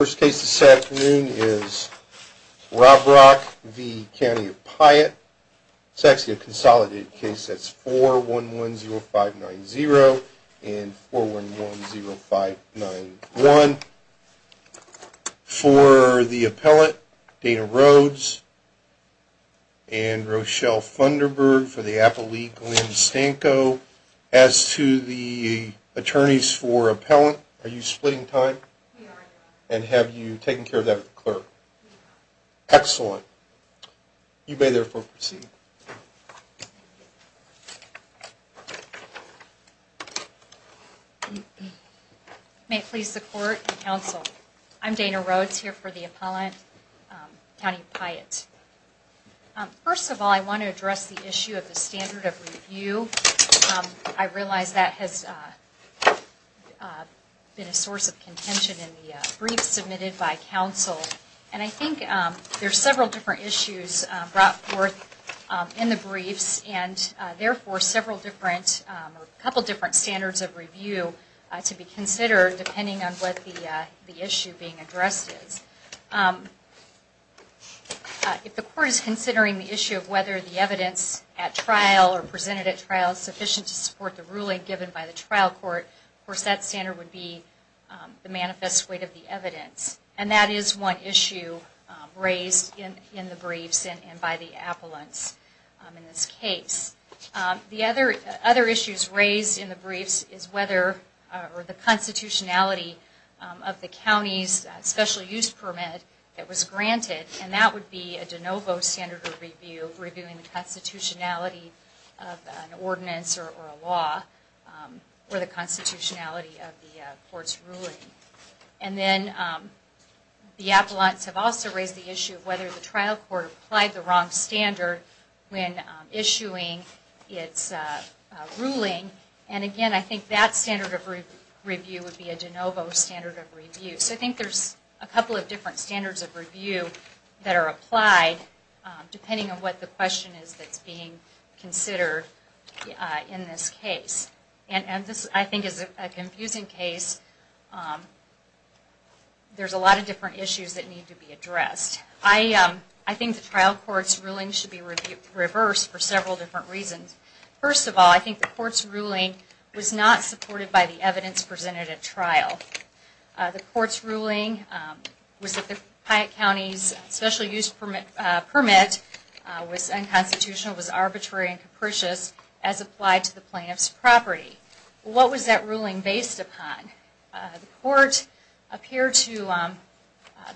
First case this afternoon is Robrock v. County of Piatt. It's actually a consolidated case. That's 4110590 and 4110591. For the appellant, Dana Rhodes and Rochelle Funderburg. For the appellee, Glenn Stanko. As to the attorneys for appellant, are you splitting time? And have you taken care of that clerk? Excellent. You may therefore proceed. May it please the court and counsel, I'm Dana Rhodes here for the appellant, County of Piatt. First of all, I want to address the issue of the standard of review. I realize that has been a source of contention in the briefs submitted by counsel. And I think there are several different issues brought forth in the briefs, and therefore several different, a couple different standards of review to be considered, depending on what the issue being addressed is. If the court is considering the issue of whether the evidence at trial or presented at trial is sufficient to support the ruling given by the trial court, of course that standard would be the manifest weight of the evidence. And that is one issue raised in the briefs and by the appellants in this case. The other issues raised in the briefs is whether or the constitutionality of the county's special use permit that was granted, and that would be a de novo standard of review, reviewing the constitutionality of an ordinance or a law, or the constitutionality of the court's ruling. And then the appellants have also raised the issue of whether the trial court applied the wrong standard when issuing its ruling. And again, I think that standard of review would be a de novo standard of review. So I think there's a couple of different standards of review that are applied depending on what the question is that's being considered in this case. And this, I think, is a confusing case. There's a lot of different issues that need to be addressed. I think the trial court's ruling should be reversed for several different reasons. First of all, I think the court's ruling was not supported by the evidence presented at trial. The court's ruling was that the Hyatt County's special use permit was unconstitutional, was arbitrary and capricious as applied to the plaintiff's property. What was that ruling based upon? The court appeared to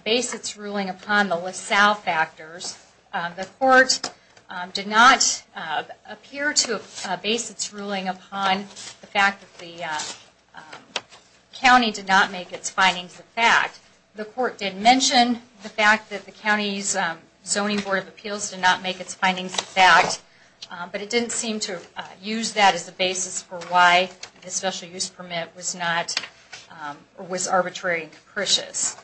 base its ruling upon the LaSalle factors. The court did not appear to base its ruling upon the fact that the county did not make its findings a fact. The court did mention the fact that the county's Zoning Board of Appeals did not make its findings a fact, but it didn't seem to use that as the basis for why the special use permit was arbitrary and capricious.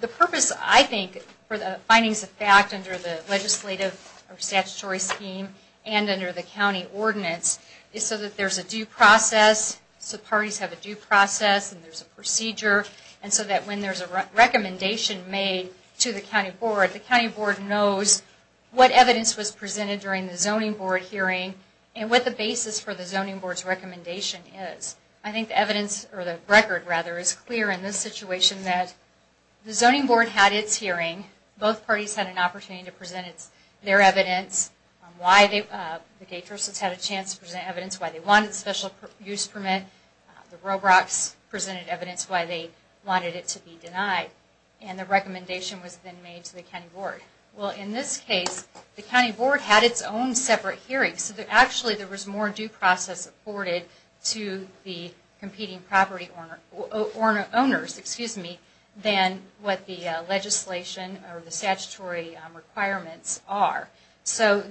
The purpose, I think, for the findings of fact under the legislative or statutory scheme and under the county ordinance is so that there's a due process, so parties have a due process and there's a procedure, and so that when there's a recommendation made to the county board, the county board knows what evidence was presented during the zoning board hearing and what the basis for the zoning board's recommendation is. I think the evidence, or the record rather, is clear in this situation that the zoning board had its hearing, both parties had an opportunity to present their evidence, why the gate nurses had a chance to present evidence why they wanted a special use permit, the Robrocks presented evidence why they wanted it to be denied, and the recommendation was then made to the county board. Well, in this case, the county board had its own separate hearing, so actually there was more due process afforded to the competing property owners than what the legislation or the statutory requirements are. So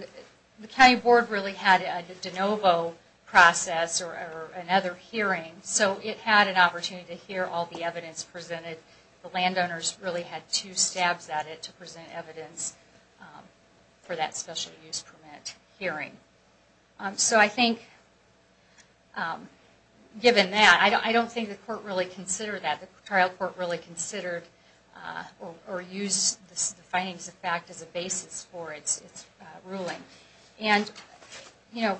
the county board really had a de novo process or another hearing, so it had an opportunity to hear all the evidence presented. The landowners really had two stabs at it to present evidence for that special use permit hearing. So I think, given that, I don't think the court really considered that, the trial court really considered or used the findings of fact as a basis for its ruling. And, you know,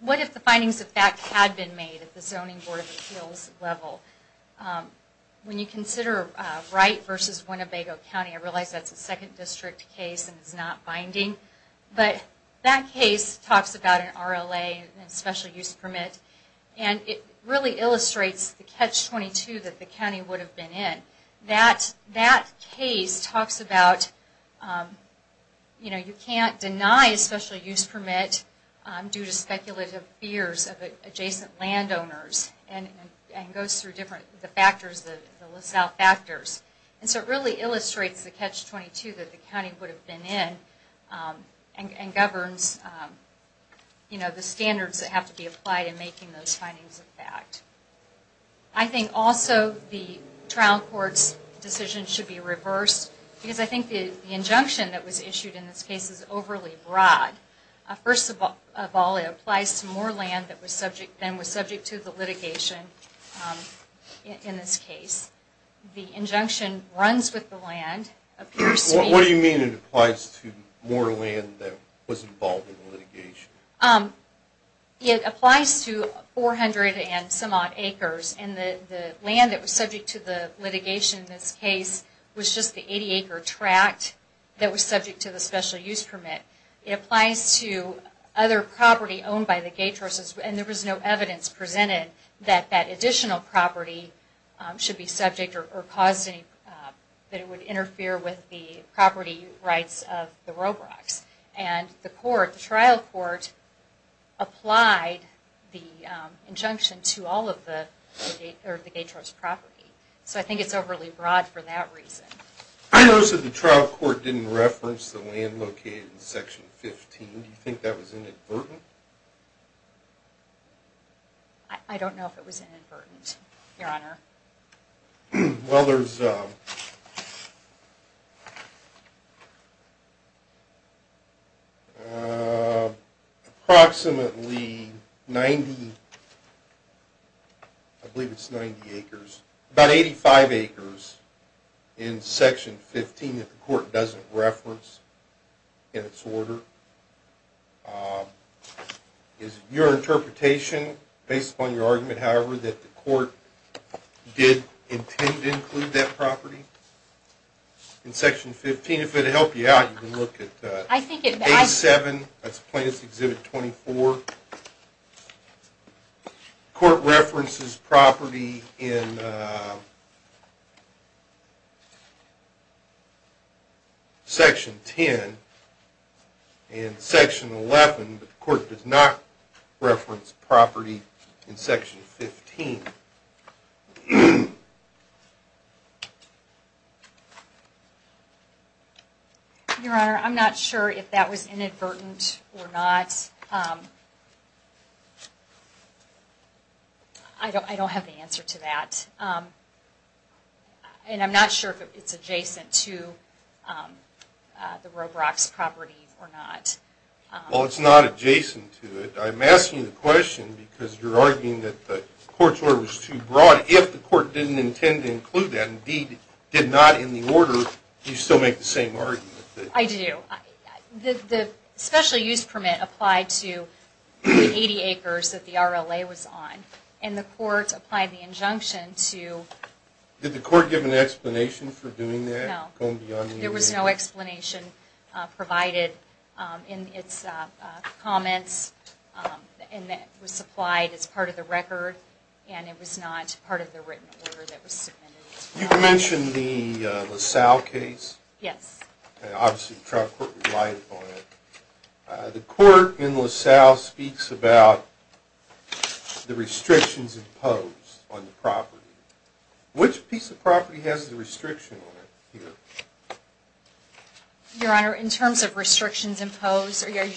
what if the findings of fact had been made at the zoning board of appeals level? When you consider Wright versus Winnebago County, I realize that's a second district case and it's not binding, but that case talks about an RLA and a special use permit, and it really illustrates the catch-22 that the county would have been in. That case talks about, you know, you can't deny a special use permit due to speculative fears of adjacent landowners and goes through different factors, the LaSalle factors. And so it really illustrates the catch-22 that the county would have been in and governs, you know, the standards that have to be applied in making those findings of fact. I think also the trial court's decision should be reversed because I think the injunction that was issued in this case is overly broad. First of all, it applies to more land than was subject to the litigation in this case. The injunction runs with the land. What do you mean it applies to more land than was involved in the litigation? It applies to 400 and some odd acres, and the land that was subject to the litigation in this case was just the 80-acre tract that was subject to the special use permit. It applies to other property owned by the Gaetros, and there was no evidence presented that that additional property should be subject or caused any, that it would interfere with the property rights of the Robrocks. And the court, the trial court, applied the injunction to all of the Gaetros property. So I think it's overly broad for that reason. I noticed that the trial court didn't reference the land located in Section 15. Do you think that was inadvertent? I don't know if it was inadvertent, Your Honor. Well, there's approximately 90, I believe it's 90 acres, about 85 acres in Section 15 that the court doesn't reference in its order. Is your interpretation, based upon your argument, however, that the court did intend to include that property in Section 15? If it would help you out, you can look at 87, that's Plaintiff's Exhibit 24. The court references property in Section 10 and Section 11, but the court does not reference property in Section 15. Your Honor, I'm not sure if that was inadvertent or not. I don't have the answer to that. And I'm not sure if it's adjacent to the Robrocks property or not. Well, it's not adjacent to it. I'm asking you the question because you're arguing that the court's order was too broad. If the court didn't intend to include that, indeed did not in the order, do you still make the same argument? I do. The special use permit applied to the 80 acres that the RLA was on, and the court applied the injunction to... Did the court give an explanation for doing that? No. There was no explanation provided in its comments, and it was supplied as part of the record, and it was not part of the written order that was submitted. You mentioned the LaSalle case. Yes. Obviously the trial court relied upon it. The court in LaSalle speaks about the restrictions imposed on the property. Which piece of property has the restriction on it here? Your Honor, in terms of restrictions imposed, are you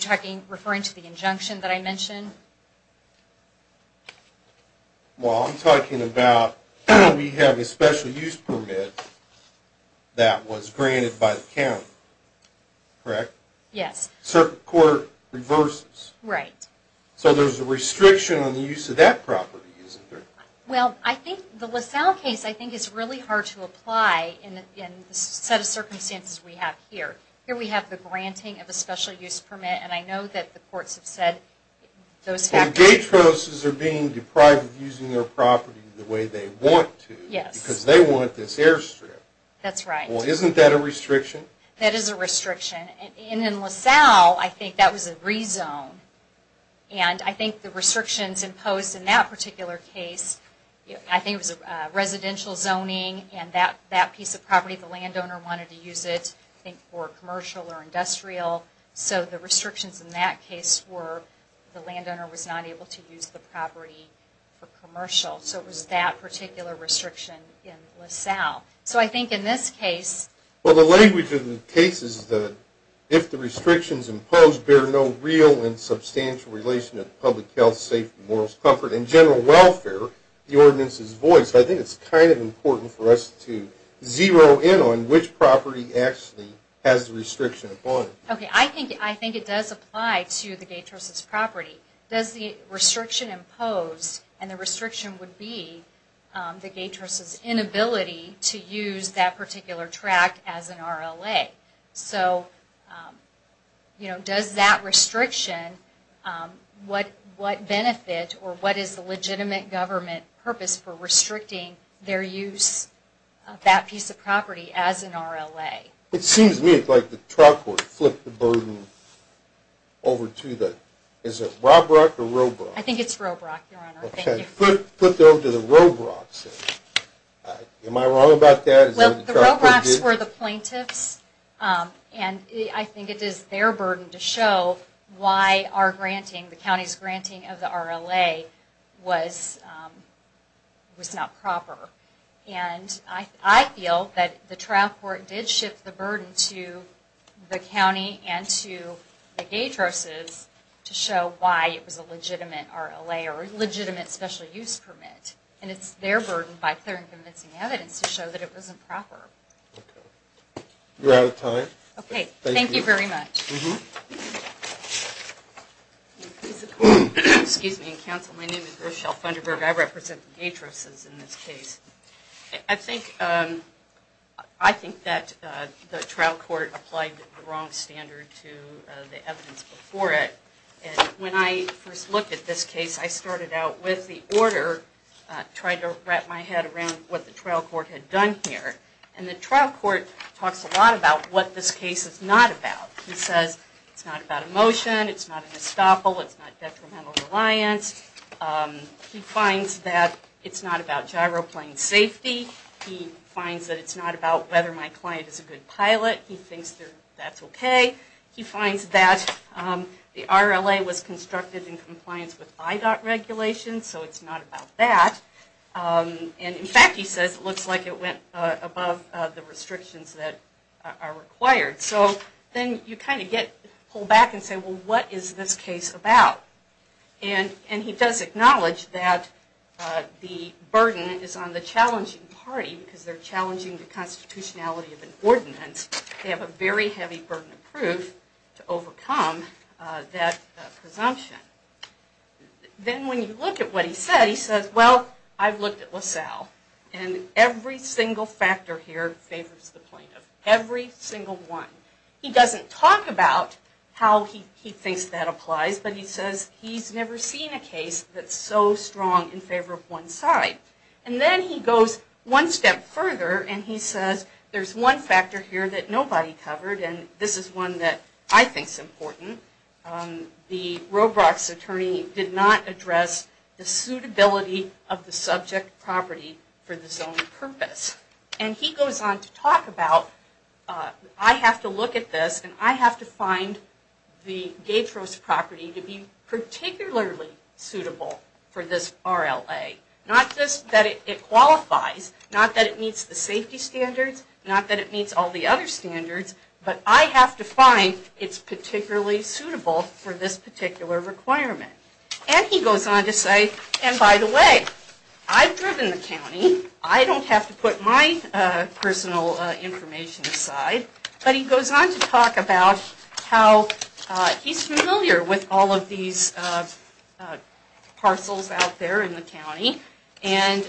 referring to the injunction that I mentioned? Well, I'm talking about we have a special use permit that was granted by the county. Correct? Yes. So the court reverses. Right. So there's a restriction on the use of that property, isn't there? Well, I think the LaSalle case, I think, is really hard to apply in the set of circumstances we have here. Here we have the granting of a special use permit, and I know that the courts have said those factors... And Gatroses are being deprived of using their property the way they want to. Yes. Because they want this airstrip. That's right. Well, isn't that a restriction? That is a restriction. And in LaSalle, I think that was a rezone, and I think the restrictions imposed in that particular case, I think it was residential zoning and that piece of property, the landowner wanted to use it for commercial or industrial. So the restrictions in that case were the landowner was not able to use the property for commercial. So it was that particular restriction in LaSalle. So I think in this case... If the restrictions imposed bear no real and substantial relation to public health, safety, morals, comfort, and general welfare, the ordinance is voiced, I think it's kind of important for us to zero in on which property actually has the restriction upon it. Okay. I think it does apply to the Gatroses property. Does the restriction imposed, and the restriction would be the Gatroses' inability to use that particular tract as an RLA. So, you know, does that restriction, what benefit or what is the legitimate government purpose for restricting their use of that piece of property as an RLA? It seems to me like the trial court flipped the burden over to the... Is it Robrock or Robrock? I think it's Robrock, Your Honor. Okay. Put them to the Robrocks. Am I wrong about that? Well, the Robrocks were the plaintiffs, and I think it is their burden to show why our granting, the county's granting of the RLA, was not proper. And I feel that the trial court did shift the burden to the county and to the Gatroses to show why it was a legitimate RLA or legitimate special use permit. And it's their burden, by clear and convincing evidence, to show that it wasn't proper. Okay. We're out of time. Okay. Thank you. Thank you very much. Excuse me, counsel. My name is Rochelle Funderburg. I represent the Gatroses in this case. I think that the trial court applied the wrong standard to the evidence before it. And when I first looked at this case, I started out with the order, tried to wrap my head around what the trial court had done here. And the trial court talks a lot about what this case is not about. He says it's not about emotion, it's not an estoppel, it's not detrimental reliance. He finds that it's not about gyroplane safety. He finds that it's not about whether my client is a good pilot. He thinks that's okay. He finds that the RLA was constructed in compliance with IDOT regulations, so it's not about that. And, in fact, he says it looks like it went above the restrictions that are required. So then you kind of get pulled back and say, well, what is this case about? And he does acknowledge that the burden is on the challenging party, because they're challenging the constitutionality of an ordinance. They have a very heavy burden of proof to overcome that presumption. Then when you look at what he said, he says, well, I've looked at LaSalle, and every single factor here favors the plaintiff. Every single one. He doesn't talk about how he thinks that applies, but he says he's never seen a case that's so strong in favor of one side. And then he goes one step further, and he says, there's one factor here that nobody covered, and this is one that I think is important. The Robrocks attorney did not address the suitability of the subject property for the zone purpose. And he goes on to talk about, I have to look at this, and I have to find the Gaytrose property to be particularly suitable for this RLA. Not just that it qualifies, not that it meets the safety standards, not that it meets all the other standards, but I have to find it's particularly suitable for this particular requirement. And he goes on to say, and by the way, I've driven the county. I don't have to put my personal information aside. But he goes on to talk about how he's familiar with all of these parcels out there in the county, and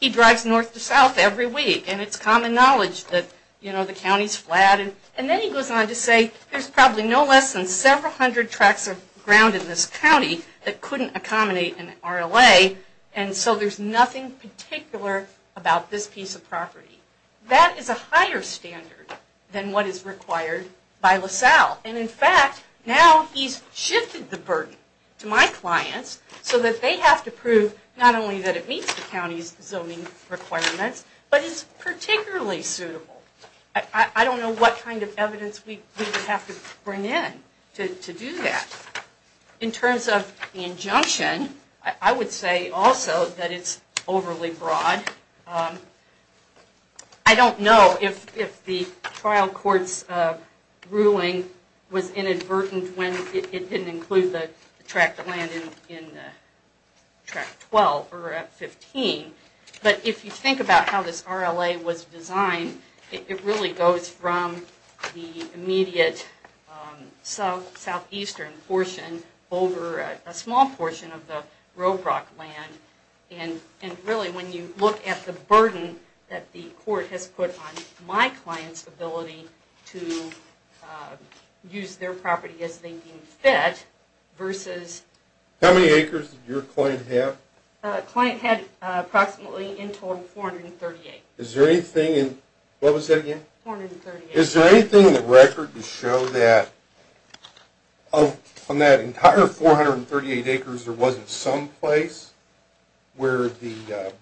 he drives north to south every week, and it's common knowledge that the county's flat. And then he goes on to say, there's probably no less than several hundred tracts of ground in this county that couldn't accommodate an RLA, and so there's nothing particular about this piece of property. That is a higher standard than what is required by LaSalle. And in fact, now he's shifted the burden to my clients so that they have to prove not only that it meets the county's zoning requirements, but it's particularly suitable. I don't know what kind of evidence we would have to bring in to do that. In terms of the injunction, I would say also that it's overly broad. I don't know if the trial court's ruling was inadvertent when it didn't include the tract of land in tract 12 or 15. But if you think about how this RLA was designed, it really goes from the immediate southeastern portion over a small portion of the Robrock land. And really, when you look at the burden that the court has put on my clients' ability to use their property as they deem fit versus… How many acres did your client have? The client had approximately in total 438. Is there anything in the record to show that on that entire 438 acres there wasn't some place where the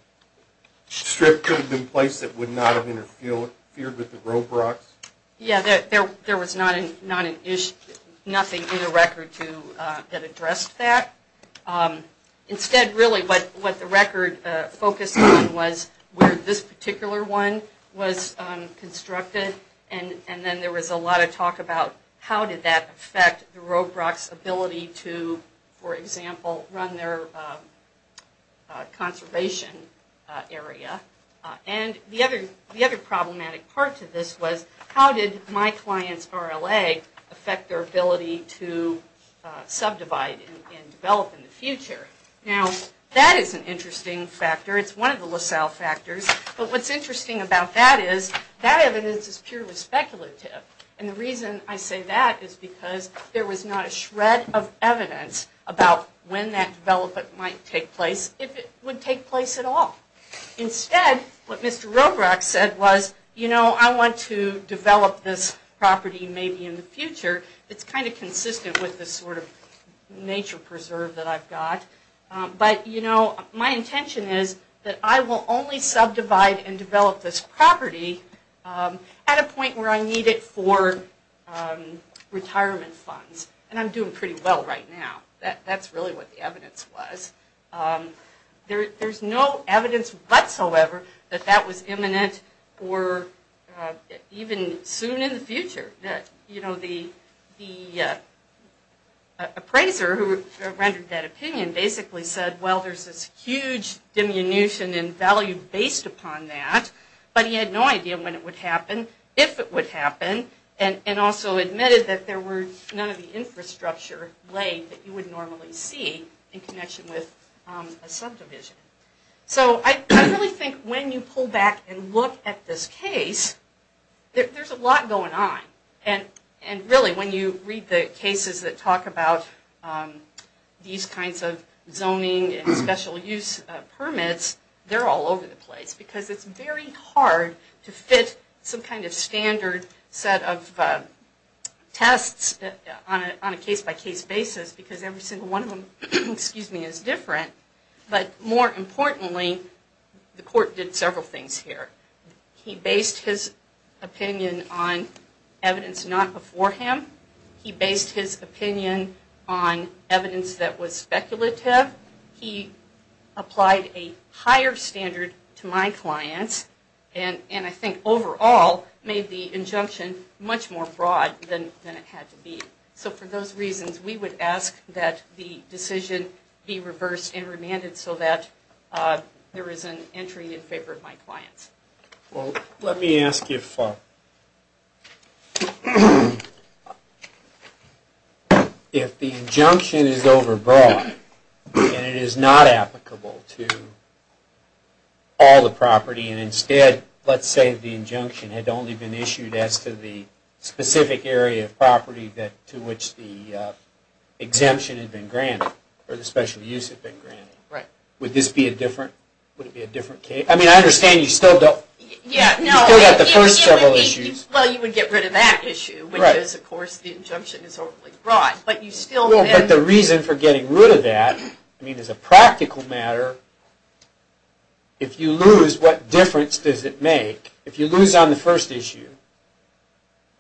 strip could have been placed that would not have interfered with the Robrocks? Yeah, there was nothing in the record that addressed that. Instead, really what the record focused on was where this particular one was constructed, and then there was a lot of talk about how did that affect the Robrocks' ability to, for example, run their conservation area? And the other problematic part to this was how did my client's RLA affect their ability to subdivide and develop in the future? Now, that is an interesting factor. It's one of the LaSalle factors. But what's interesting about that is that evidence is purely speculative. And the reason I say that is because there was not a shred of evidence about when that development might take place, if it would take place at all. Instead, what Mr. Robrocks said was, you know, I want to develop this property maybe in the future. It's kind of consistent with this sort of nature preserve that I've got. But, you know, my intention is that I will only subdivide and develop this property at a point where I need it for retirement funds. And I'm doing pretty well right now. That's really what the evidence was. There's no evidence whatsoever that that was imminent or even soon in the future. You know, the appraiser who rendered that opinion basically said, well, there's this huge diminution in value based upon that. But he had no idea when it would happen, if it would happen, and also admitted that there were none of the infrastructure laid that you would normally see in connection with a subdivision. So I really think when you pull back and look at this case, there's a lot going on. And really, when you read the cases that talk about these kinds of zoning and special use permits, they're all over the place. Because it's very hard to fit some kind of standard set of tests on a case-by-case basis. Because every single one of them, excuse me, is different. But more importantly, the court did several things here. He based his opinion on evidence not before him. He based his opinion on evidence that was speculative. He applied a higher standard to my clients, and I think overall made the injunction much more broad than it had to be. So for those reasons, we would ask that the decision be reversed and remanded so that there is an entry in favor of my clients. Well, let me ask you if the injunction is overbroad and it is not applicable to all the property, and instead, let's say the injunction had only been issued as to the specific area of property to which the exemption had been granted, or the special use had been granted. Would this be a different case? I mean, I understand you still have the first several issues. Well, you would get rid of that issue because, of course, the injunction is overly broad. But the reason for getting rid of that is a practical matter. If you lose, what difference does it make? If you lose on the first issue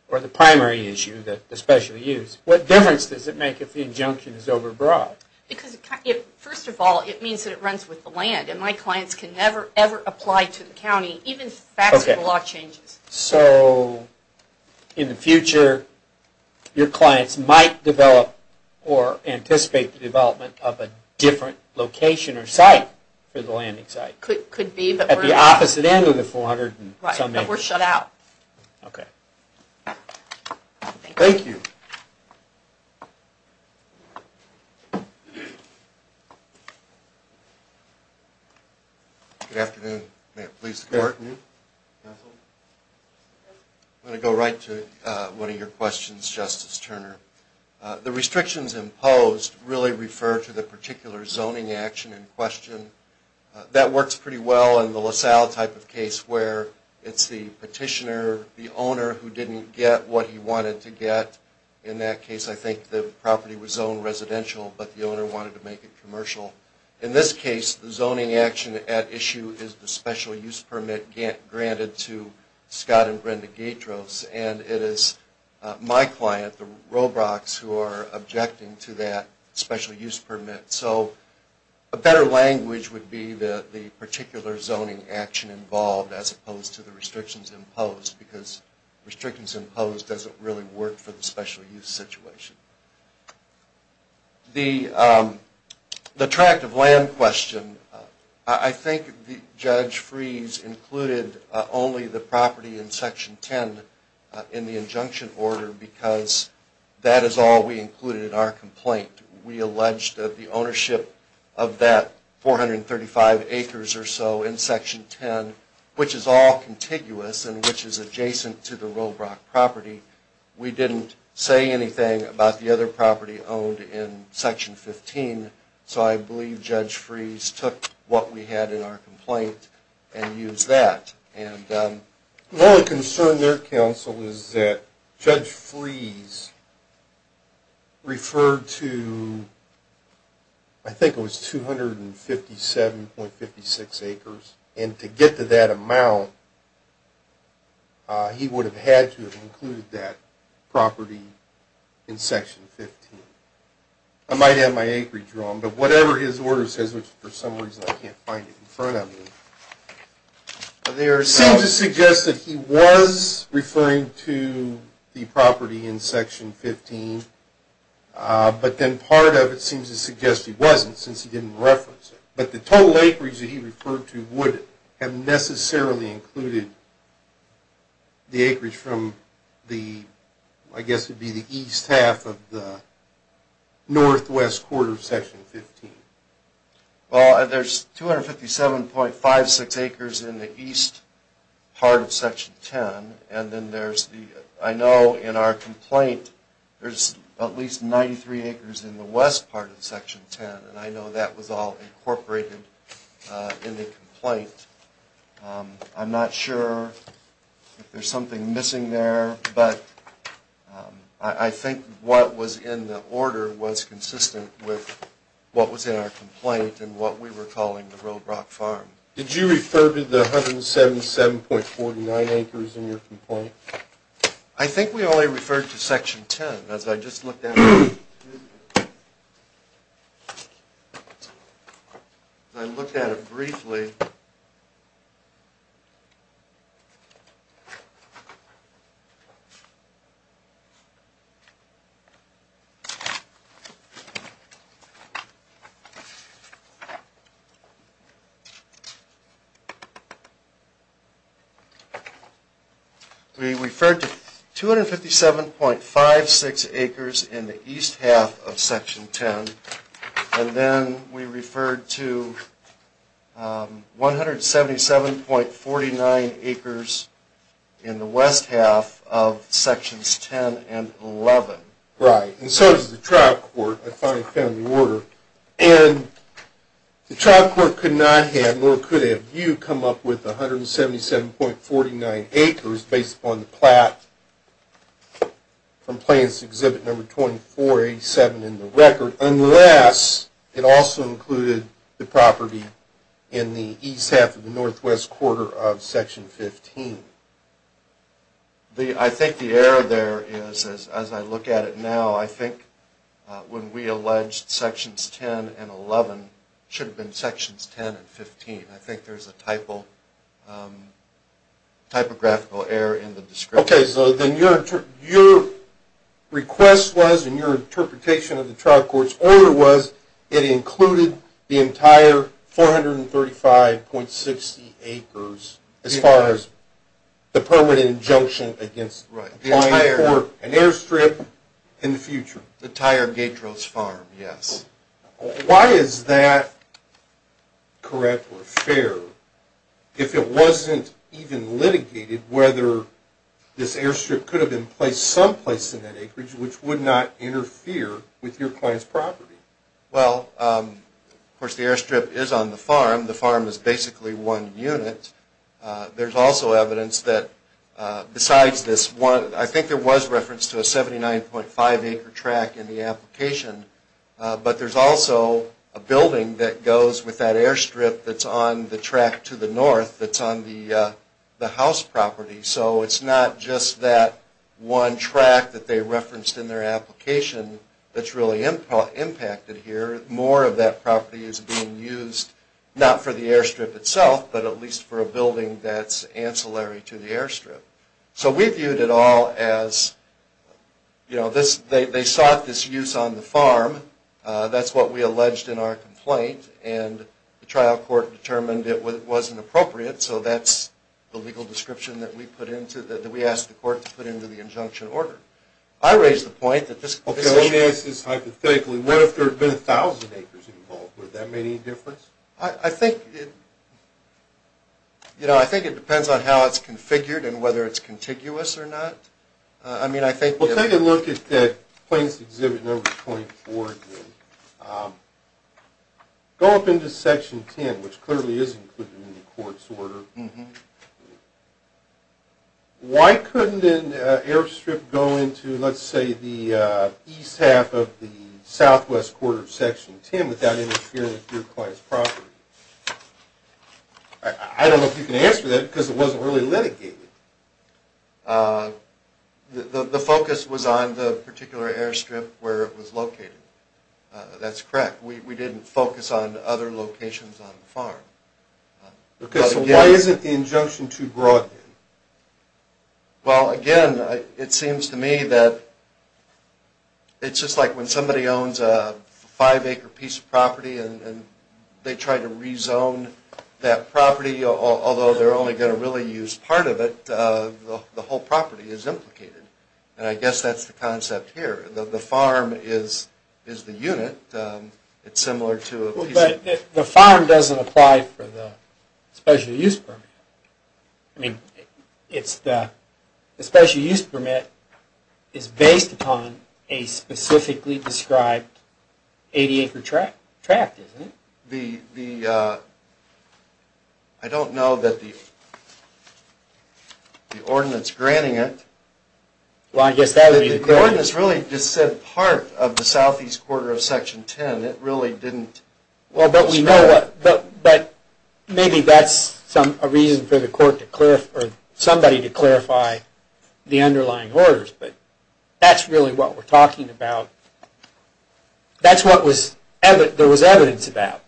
or the primary issue, the special use, what difference does it make if the injunction is overbroad? First of all, it means that it runs with the land, and my clients can never, ever apply to the county, even if the facts of the law changes. So, in the future, your clients might develop or anticipate the development of a different location or site for the landing site? Could be, but we're not. At the opposite end of the 400 and something? Right, but we're shut out. Okay. Thank you. Good afternoon. May it please the Court? I'm going to go right to one of your questions, Justice Turner. The restrictions imposed really refer to the particular zoning action in question. That works pretty well in the LaSalle type of case, where it's the petitioner, the owner, who didn't get what he wanted to get. In that case, I think the property was zoned residential, but the owner wanted to make it commercial. In this case, the zoning action at issue is the special use permit granted to Scott and Brenda Gaytros, and it is my client, the Robrocks, who are objecting to that special use permit. So a better language would be the particular zoning action involved, as opposed to the restrictions imposed, because restrictions imposed doesn't really work for the special use situation. The tract of land question. I think Judge Freese included only the property in Section 10 in the injunction order because that is all we included in our complaint. We alleged that the ownership of that 435 acres or so in Section 10, which is all contiguous and which is adjacent to the Robrock property, we didn't say anything about the other property owned in Section 15. So I believe Judge Freese took what we had in our complaint and used that. My only concern with their counsel is that Judge Freese referred to, I think it was 257.56 acres, and to get to that amount, he would have had to have included that property in Section 15. I might have my acreage wrong, but whatever his order says, which for some reason I can't find it in front of me, there seems to suggest that he was referring to the property in Section 15, but then part of it seems to suggest he wasn't since he didn't reference it. But the total acreage that he referred to would have necessarily included the acreage from the, I guess it would be the east half of the northwest quarter of Section 15. Well, there's 257.56 acres in the east part of Section 10, and then there's the, I know in our complaint, there's at least 93 acres in the west part of Section 10, and I know that was all incorporated in the complaint. I'm not sure if there's something missing there, but I think what was in the order was consistent with what was in our complaint and what we were calling the road rock farm. Did you refer to the 177.49 acres in your complaint? I think we only referred to Section 10. As I just looked at it, I looked at it briefly. We referred to 257.56 acres in the east half of Section 10, and then we referred to 177.49 acres in the west half of Sections 10 and 11. Right, and so does the trial court. I finally found the order. And the trial court could not have, nor could it have you come up with 177.49 acres based upon the plat from Plaintiff's Exhibit No. 2487 in the record, unless it also included the property in the east half of the northwest quarter of Section 15. I think the error there is, as I look at it now, I think when we alleged Sections 10 and 11, it should have been Sections 10 and 15. I think there's a typographical error in the description. Okay, so then your request was, and your interpretation of the trial court's order was, it included the entire 435.60 acres as far as the permanent injunction against applying for an airstrip in the future. The entire Gatros Farm, yes. Why is that correct or fair, if it wasn't even litigated, whether this airstrip could have been placed someplace in that acreage which would not interfere with your client's property? Well, of course the airstrip is on the farm. The farm is basically one unit. There's also evidence that besides this one, I think there was reference to a 79.5 acre track in the application, but there's also a building that goes with that airstrip that's on the track to the north that's on the house property. So it's not just that one track that they referenced in their application that's really impacted here. More of that property is being used, not for the airstrip itself, but at least for a building that's ancillary to the airstrip. So we viewed it all as, you know, they sought this use on the farm, that's what we alleged in our complaint, and the trial court determined it wasn't appropriate, so that's the legal description that we asked the court to put into the injunction order. I raise the point that this issue... Okay, let me ask this hypothetically. What if there had been 1,000 acres involved? Would that make any difference? I think, you know, I think it depends on how it's configured and whether it's contiguous or not. I mean, I think... Well, take a look at Plaintiff's Exhibit Number 24. Go up into Section 10, which clearly is included in the court's order. Why couldn't an airstrip go into, let's say, the east half of the southwest quarter of Section 10 without interfering with your client's property? I don't know if you can answer that because it wasn't really litigated. The focus was on the particular airstrip where it was located. That's correct. We didn't focus on other locations on the farm. Okay, so why isn't the injunction too broad then? Well, again, it seems to me that it's just like when somebody owns a five-acre piece of property and they try to rezone that property, although they're only going to really use part of it, the whole property is implicated. And I guess that's the concept here. The farm is the unit. It's similar to a piece of... I mean, the special use permit is based upon a specifically described 80-acre tract, isn't it? The... I don't know that the ordinance granting it... Well, I guess that would be... The ordinance really just said part of the southeast quarter of Section 10. It really didn't... Well, but we know what... But maybe that's a reason for somebody to clarify the underlying orders. But that's really what we're talking about. That's what there was evidence about.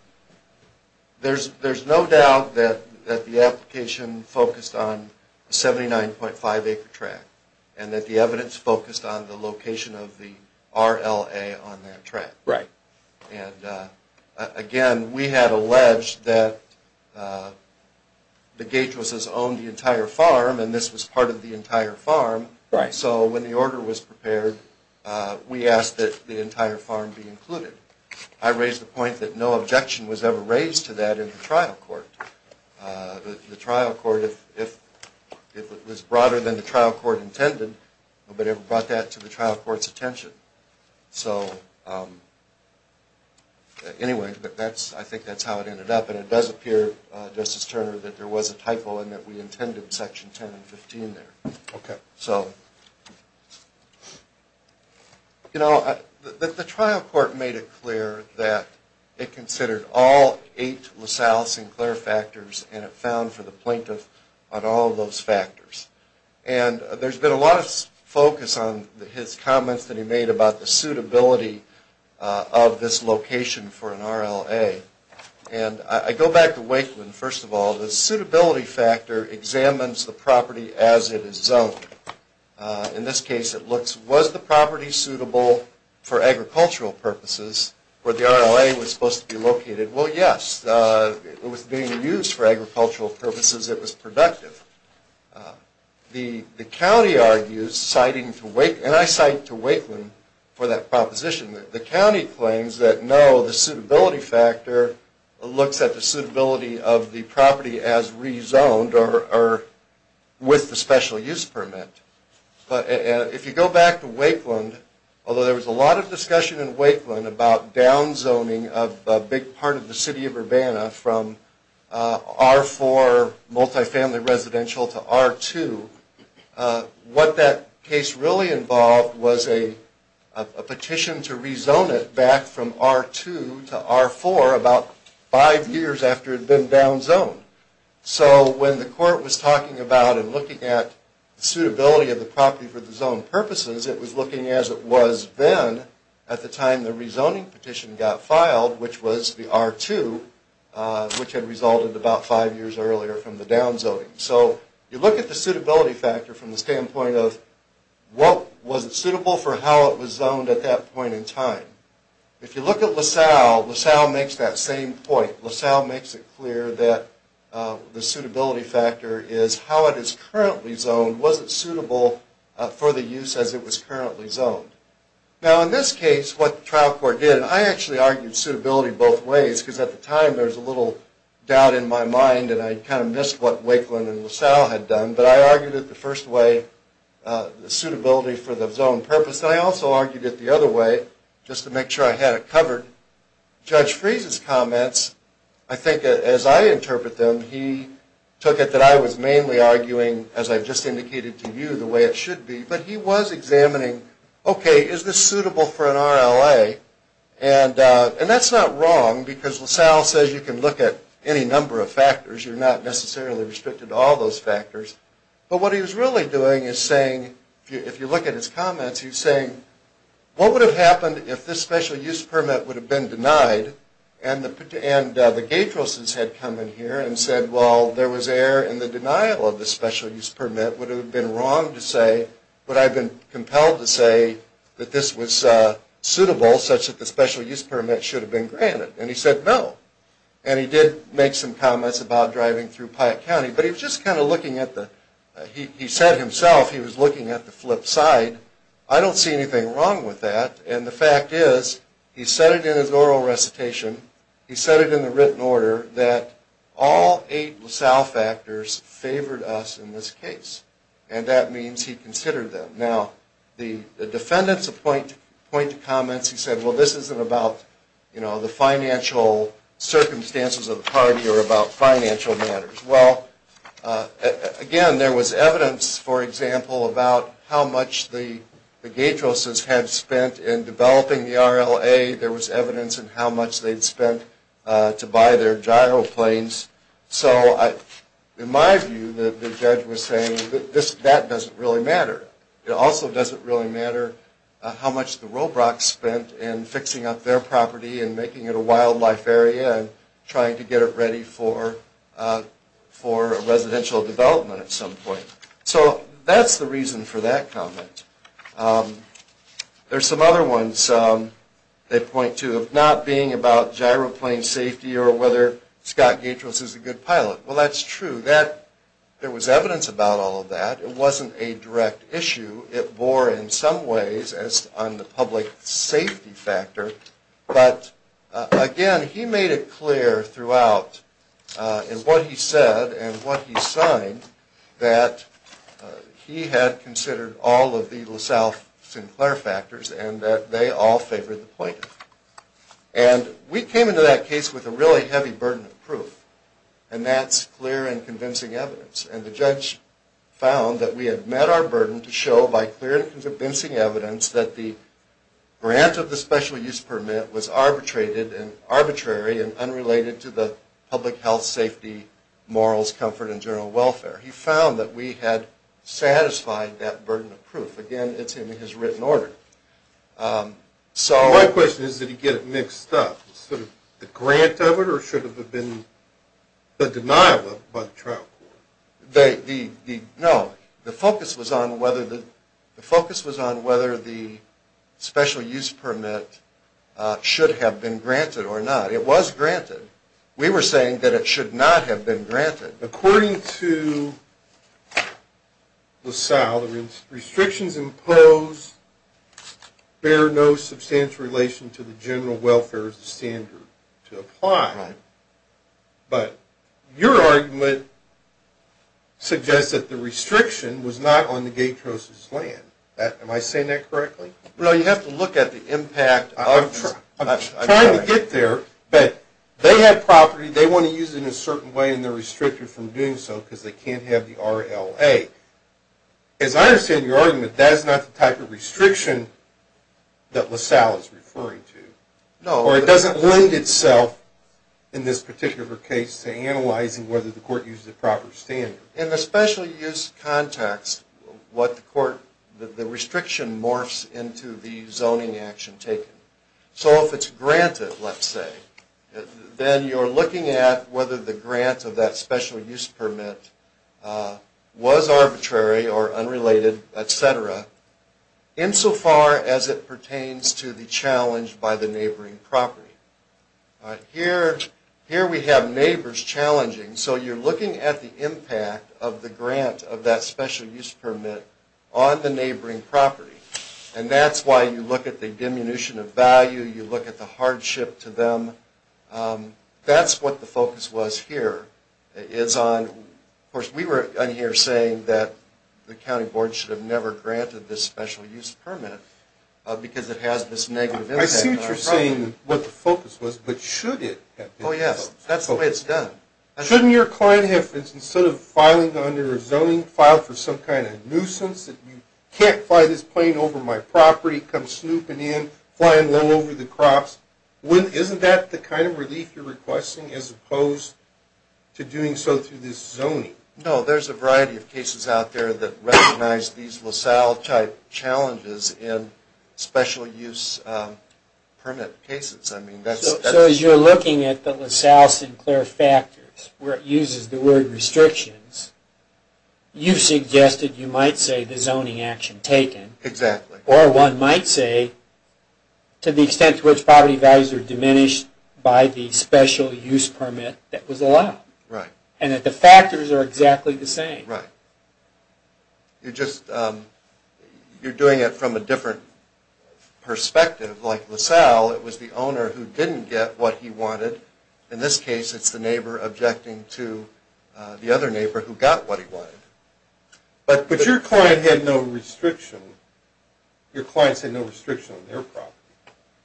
There's no doubt that the application focused on the 79.5-acre tract and that the evidence focused on the location of the RLA on that tract. Right. And, again, we had alleged that the Gatros has owned the entire farm and this was part of the entire farm. Right. So when the order was prepared, we asked that the entire farm be included. I raised the point that no objection was ever raised to that in the trial court. The trial court, if it was broader than the trial court intended, nobody ever brought that to the trial court's attention. So, anyway, I think that's how it ended up. And it does appear, Justice Turner, that there was a typo and that we intended Section 10 and 15 there. Okay. So, you know, the trial court made it clear that it considered all eight LaSalle-Sinclair factors and it found for the plaintiff on all of those factors. And there's been a lot of focus on his comments that he made about the suitability of this location for an RLA. And I go back to Wakeman, first of all. The suitability factor examines the property as it is zoned. In this case, it looks, was the property suitable for agricultural purposes where the RLA was supposed to be located? Well, yes. It was being used for agricultural purposes. It was productive. The county argues, citing to Wakeman, and I cite to Wakeman for that proposition, that the county claims that no, the suitability factor looks at the suitability of the property as rezoned or with the special use permit. But if you go back to Wakeman, although there was a lot of discussion in Wakeman about downzoning a big part of the city of Urbana from R4 multifamily residential to R2, what that case really involved was a petition to rezone it back from R2 to R4 about five years after it had been downzoned. So when the court was talking about and looking at the suitability of the property for the zoned purposes, it was looking as it was then at the time the rezoning petition got filed, which was the R2, which had resulted about five years earlier from the downzoning. So you look at the suitability factor from the standpoint of was it suitable for how it was zoned at that point in time? If you look at LaSalle, LaSalle makes that same point. LaSalle makes it clear that the suitability factor is how it is currently zoned. And was it suitable for the use as it was currently zoned? Now in this case, what the trial court did, and I actually argued suitability both ways, because at the time there was a little doubt in my mind and I kind of missed what Wakeman and LaSalle had done. But I argued it the first way, suitability for the zoned purpose. And I also argued it the other way, just to make sure I had it covered. Judge Freese's comments, I think as I interpret them, he took it that I was mainly arguing, as I've just indicated to you, the way it should be. But he was examining, okay, is this suitable for an RLA? And that's not wrong, because LaSalle says you can look at any number of factors, you're not necessarily restricted to all those factors. But what he was really doing is saying, if you look at his comments, he was saying, what would have happened if this special use permit would have been denied, and the Gatroses had come in here and said, well, there was error in the denial of the special use permit. Would it have been wrong to say, would I have been compelled to say that this was suitable, such that the special use permit should have been granted? And he said no. And he did make some comments about driving through Pike County, but he was just kind of looking at the, he said himself, he was looking at the flip side. I don't see anything wrong with that. And the fact is, he said it in his oral recitation, he said it in the written order, that all eight LaSalle factors favored us in this case. And that means he considered them. Now, the defendants point to comments, he said, well, this isn't about the financial circumstances of the party or about financial matters. Well, again, there was evidence, for example, about how much the Gatroses had spent in developing the RLA. There was evidence in how much they'd spent to buy their gyroplanes. So in my view, the judge was saying, that doesn't really matter. It also doesn't really matter how much the Robrocks spent in fixing up their property and making it a wildlife area and trying to get it ready for residential development at some point. So that's the reason for that comment. There's some other ones that point to it not being about gyroplane safety or whether Scott Gatrose is a good pilot. Well, that's true. There was evidence about all of that. It wasn't a direct issue. It bore in some ways on the public safety factor. But again, he made it clear throughout in what he said and what he signed that he had considered all of the LaSalle-Sinclair factors and that they all favored the plaintiff. And we came into that case with a really heavy burden of proof. And that's clear and convincing evidence. And the judge found that we had met our burden to show by clear and convincing evidence that the grant of the special use permit was arbitrated and arbitrary and unrelated to the public health, safety, morals, comfort, and general welfare. He found that we had satisfied that burden of proof. Again, it's in his written order. My question is, did he get it mixed up? The grant of it or should it have been the denial of it by the trial court? No. The focus was on whether the special use permit should have been granted or not. It was granted. We were saying that it should not have been granted. According to LaSalle, restrictions imposed bear no substantial relation to the general welfare as a standard to apply. But your argument suggests that the restriction was not on the Gatros' land. Am I saying that correctly? Well, you have to look at the impact. I'm trying to get there, but they had property. They want to use it in a certain way, and they're restricted from doing so because they can't have the RLA. As I understand your argument, that is not the type of restriction that LaSalle is referring to. Or it doesn't lend itself, in this particular case, to analyzing whether the court uses a proper standard. In the special use context, the restriction morphs into the zoning action taken. So if it's granted, let's say, then you're looking at whether the grant of that special use permit was arbitrary or unrelated, etc., insofar as it pertains to the challenge by the neighboring property. Here we have neighbors challenging, so you're looking at the impact of the grant of that special use permit on the neighboring property. That's why you look at the diminution of value. You look at the hardship to them. That's what the focus was here. Of course, we were in here saying that the county board should have never granted this special use permit because it has this negative impact on our property. I see what you're saying, what the focus was. But should it have been? Oh, yes. That's the way it's done. Shouldn't your client have, instead of filing under a zoning file for some kind of nuisance, that you can't fly this plane over my property, come snooping in, flying low over the crops, isn't that the kind of relief you're requesting as opposed to doing so through this zoning? No, there's a variety of cases out there that recognize these LaSalle-type challenges in special use permit cases. So as you're looking at the LaSalle-Sinclair factors, where it uses the word restrictions, you suggested you might say the zoning action taken. Exactly. Or one might say to the extent to which property values are diminished by the special use permit that was allowed. Right. And that the factors are exactly the same. Right. You're doing it from a different perspective. Like LaSalle, it was the owner who didn't get what he wanted. In this case, it's the neighbor objecting to the other neighbor who got what he wanted. But your client had no restriction. Your clients had no restriction on their property,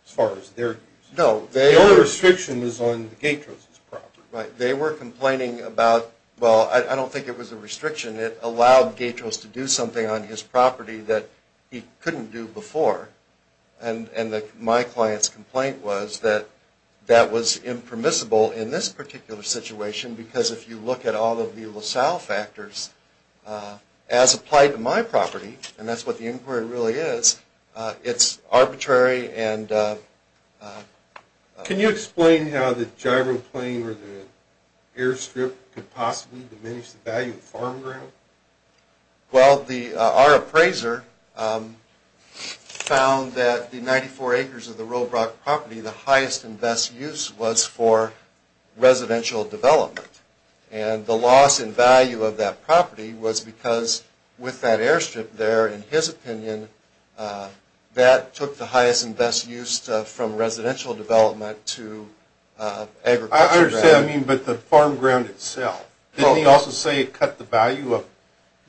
as far as their use. Their restriction was on Gatros' property. Right. They were complaining about, well, I don't think it was a restriction. It allowed Gatros to do something on his property that he couldn't do before. And my client's complaint was that that was impermissible in this particular situation, because if you look at all of the LaSalle factors, as applied to my property, and that's what the inquiry really is, it's arbitrary. Can you explain how the gyroplane or the airstrip could possibly diminish the value of farm ground? Well, our appraiser found that the 94 acres of the Robrock property, the highest and best use was for residential development. And the loss in value of that property was because with that airstrip there, in his opinion, that took the highest and best use from residential development to agriculture. I understand. I mean, but the farm ground itself. Didn't he also say it cut the value of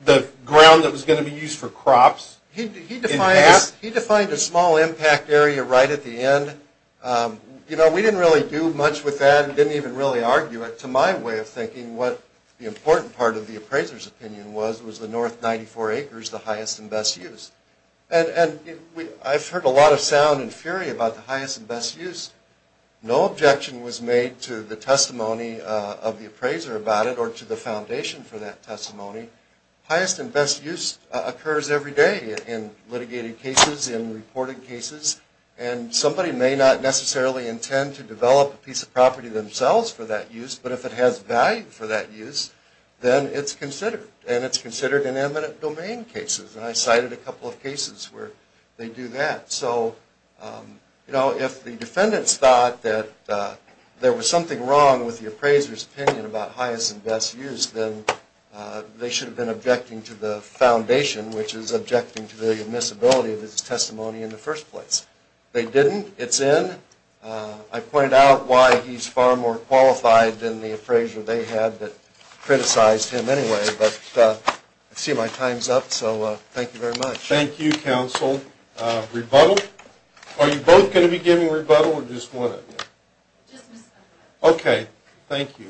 the ground that was going to be used for crops? He defined a small impact area right at the end. You know, we didn't really do much with that and didn't even really argue it. To my way of thinking, what the important part of the appraiser's opinion was, was the north 94 acres the highest and best use. And I've heard a lot of sound and fury about the highest and best use. No objection was made to the testimony of the appraiser about it or to the foundation for that testimony. Highest and best use occurs every day in litigated cases, in reported cases. And somebody may not necessarily intend to develop a piece of property themselves for that use, but if it has value for that use, then it's considered. And it's considered an eminent domain case. And I cited a couple of cases where they do that. So, you know, if the defendants thought that there was something wrong with the appraiser's opinion about highest and best use, then they should have been objecting to the foundation, which is objecting to the admissibility of his testimony in the first place. They didn't. It's in. I pointed out why he's far more qualified than the appraiser they had that criticized him anyway. But I see my time's up, so thank you very much. Thank you, counsel. Rebuttal? Are you both going to be giving rebuttal or just one of you? Okay. Thank you.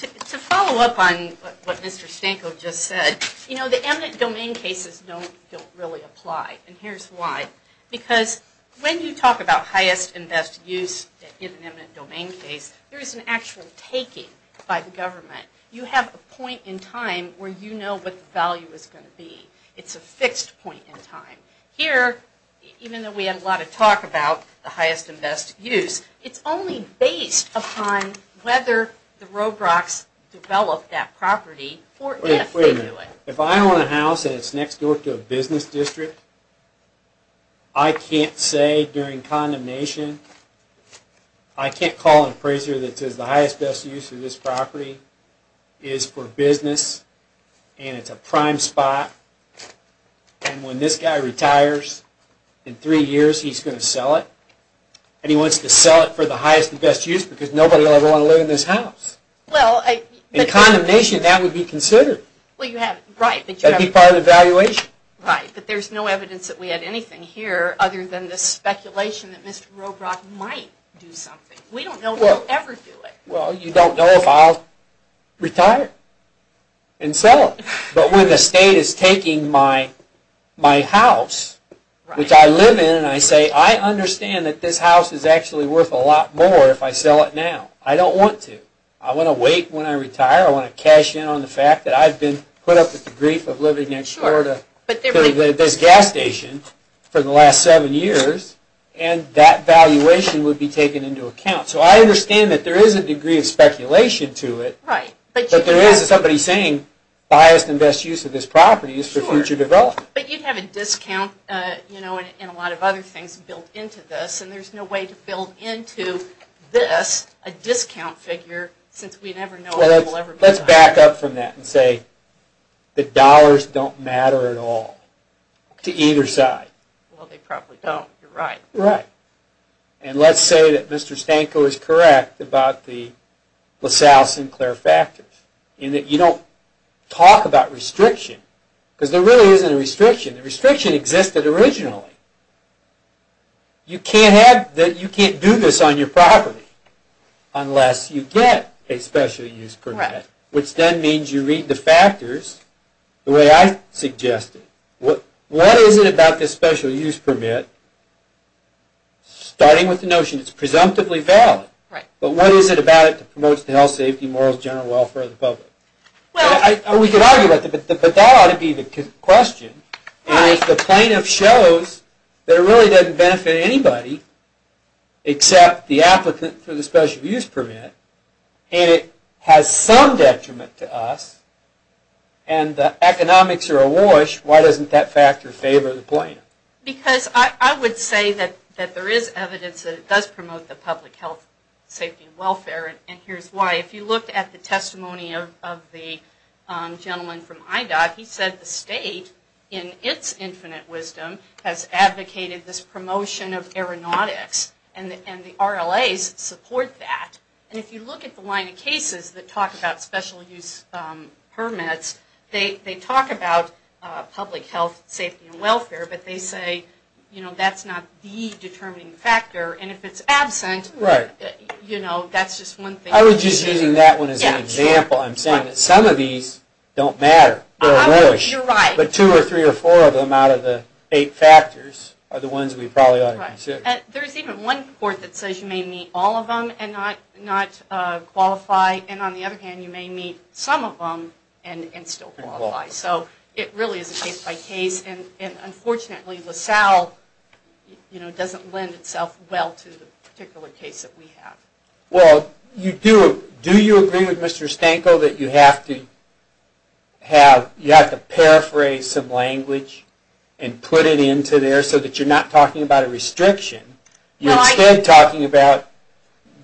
To follow up on what Mr. Stanko just said, you know, the eminent domain cases don't really apply. And here's why. Because when you talk about highest and best use in an eminent domain case, there is an actual taking by the government. You have a point in time where you know what the value is going to be. It's a fixed point in time. Here, even though we had a lot of talk about the highest and best use, it's only based upon whether the Robrocks developed that property or if they do it. Wait a minute. If I own a house and it's next door to a business district, I can't say during condemnation, I can't call an appraiser that says the highest and best use of this property is for business and it's a prime spot, and when this guy retires in three years, he's going to sell it. And he wants to sell it for the highest and best use because nobody will ever want to live in this house. In condemnation, that would be considered. That would be part of the valuation. Right, but there's no evidence that we had anything here other than this speculation that Mr. Robrock might do something. We don't know if he'll ever do it. Well, you don't know if I'll retire and sell it. But when the state is taking my house, which I live in, and I say, I understand that this house is actually worth a lot more if I sell it now. I don't want to. I want to wait when I retire. I want to cash in on the fact that I've been put up with the grief of living next door to this gas station for the last seven years, and that valuation would be taken into account. So I understand that there is a degree of speculation to it. Right. But there is somebody saying the highest and best use of this property is for future development. But you'd have a discount and a lot of other things built into this, and there's no way to build into this a discount figure since we never know if we'll ever move the house. Well, let's back up from that and say the dollars don't matter at all to either side. Well, they probably don't. You're right. And let's say that Mr. Stanko is correct about the LaSalle-Sinclair factors, in that you don't talk about restriction, because there really isn't a restriction. The restriction existed originally. You can't do this on your property unless you get a special use permit, which then means you read the factors the way I suggested. What is it about this special use permit, starting with the notion it's presumptively valid, but what is it about it that promotes the health, safety, morals, general welfare of the public? We could argue about that, but that ought to be the question. And if the plaintiff shows that it really doesn't benefit anybody except the applicant for the special use permit, and it has some detriment to us, and the economics are awash, why doesn't that factor favor the plaintiff? Because I would say that there is evidence that it does promote the public health, safety, and welfare, and here's why. If you look at the testimony of the gentleman from IDOT, he said the state, in its infinite wisdom, has advocated this promotion of aeronautics, and the RLAs support that. And if you look at the line of cases that talk about special use permits, they talk about public health, safety, and welfare, but they say that's not the determining factor, and if it's absent, that's just one thing. I was just using that one as an example. I'm saying that some of these don't matter. They're awash. You're right. But two or three or four of them out of the eight factors are the ones we probably ought to consider. There's even one court that says you may meet all of them and not qualify, and on the other hand, you may meet some of them and still qualify. So it really is a case-by-case, and unfortunately LaSalle doesn't lend itself well to the particular case that we have. Well, do you agree with Mr. Stanko that you have to paraphrase some language and put it into there so that you're not talking about a restriction? You're instead talking about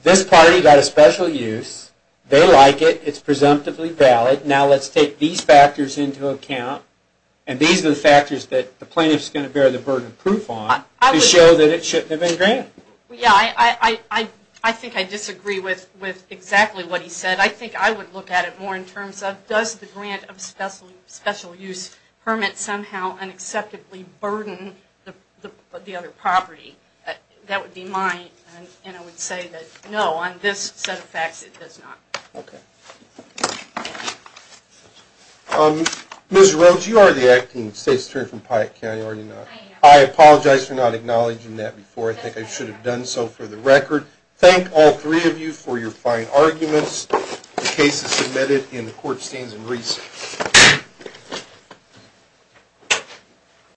this party got a special use. They like it. It's presumptively valid. Now let's take these factors into account, and these are the factors that the plaintiff is going to bear the burden of proof on to show that it shouldn't have been granted. Yeah, I think I disagree with exactly what he said. I think I would look at it more in terms of does the grant of special use permit somehow unacceptably burden the other property? That would be mine, and I would say that no, on this set of facts, it does not. Okay. Ms. Rhodes, you are the acting state's attorney from Piatt County, are you not? I am. I apologize for not acknowledging that before. I think I should have done so for the record. Thank all three of you for your fine arguments. The case is submitted, and the court stands in recess.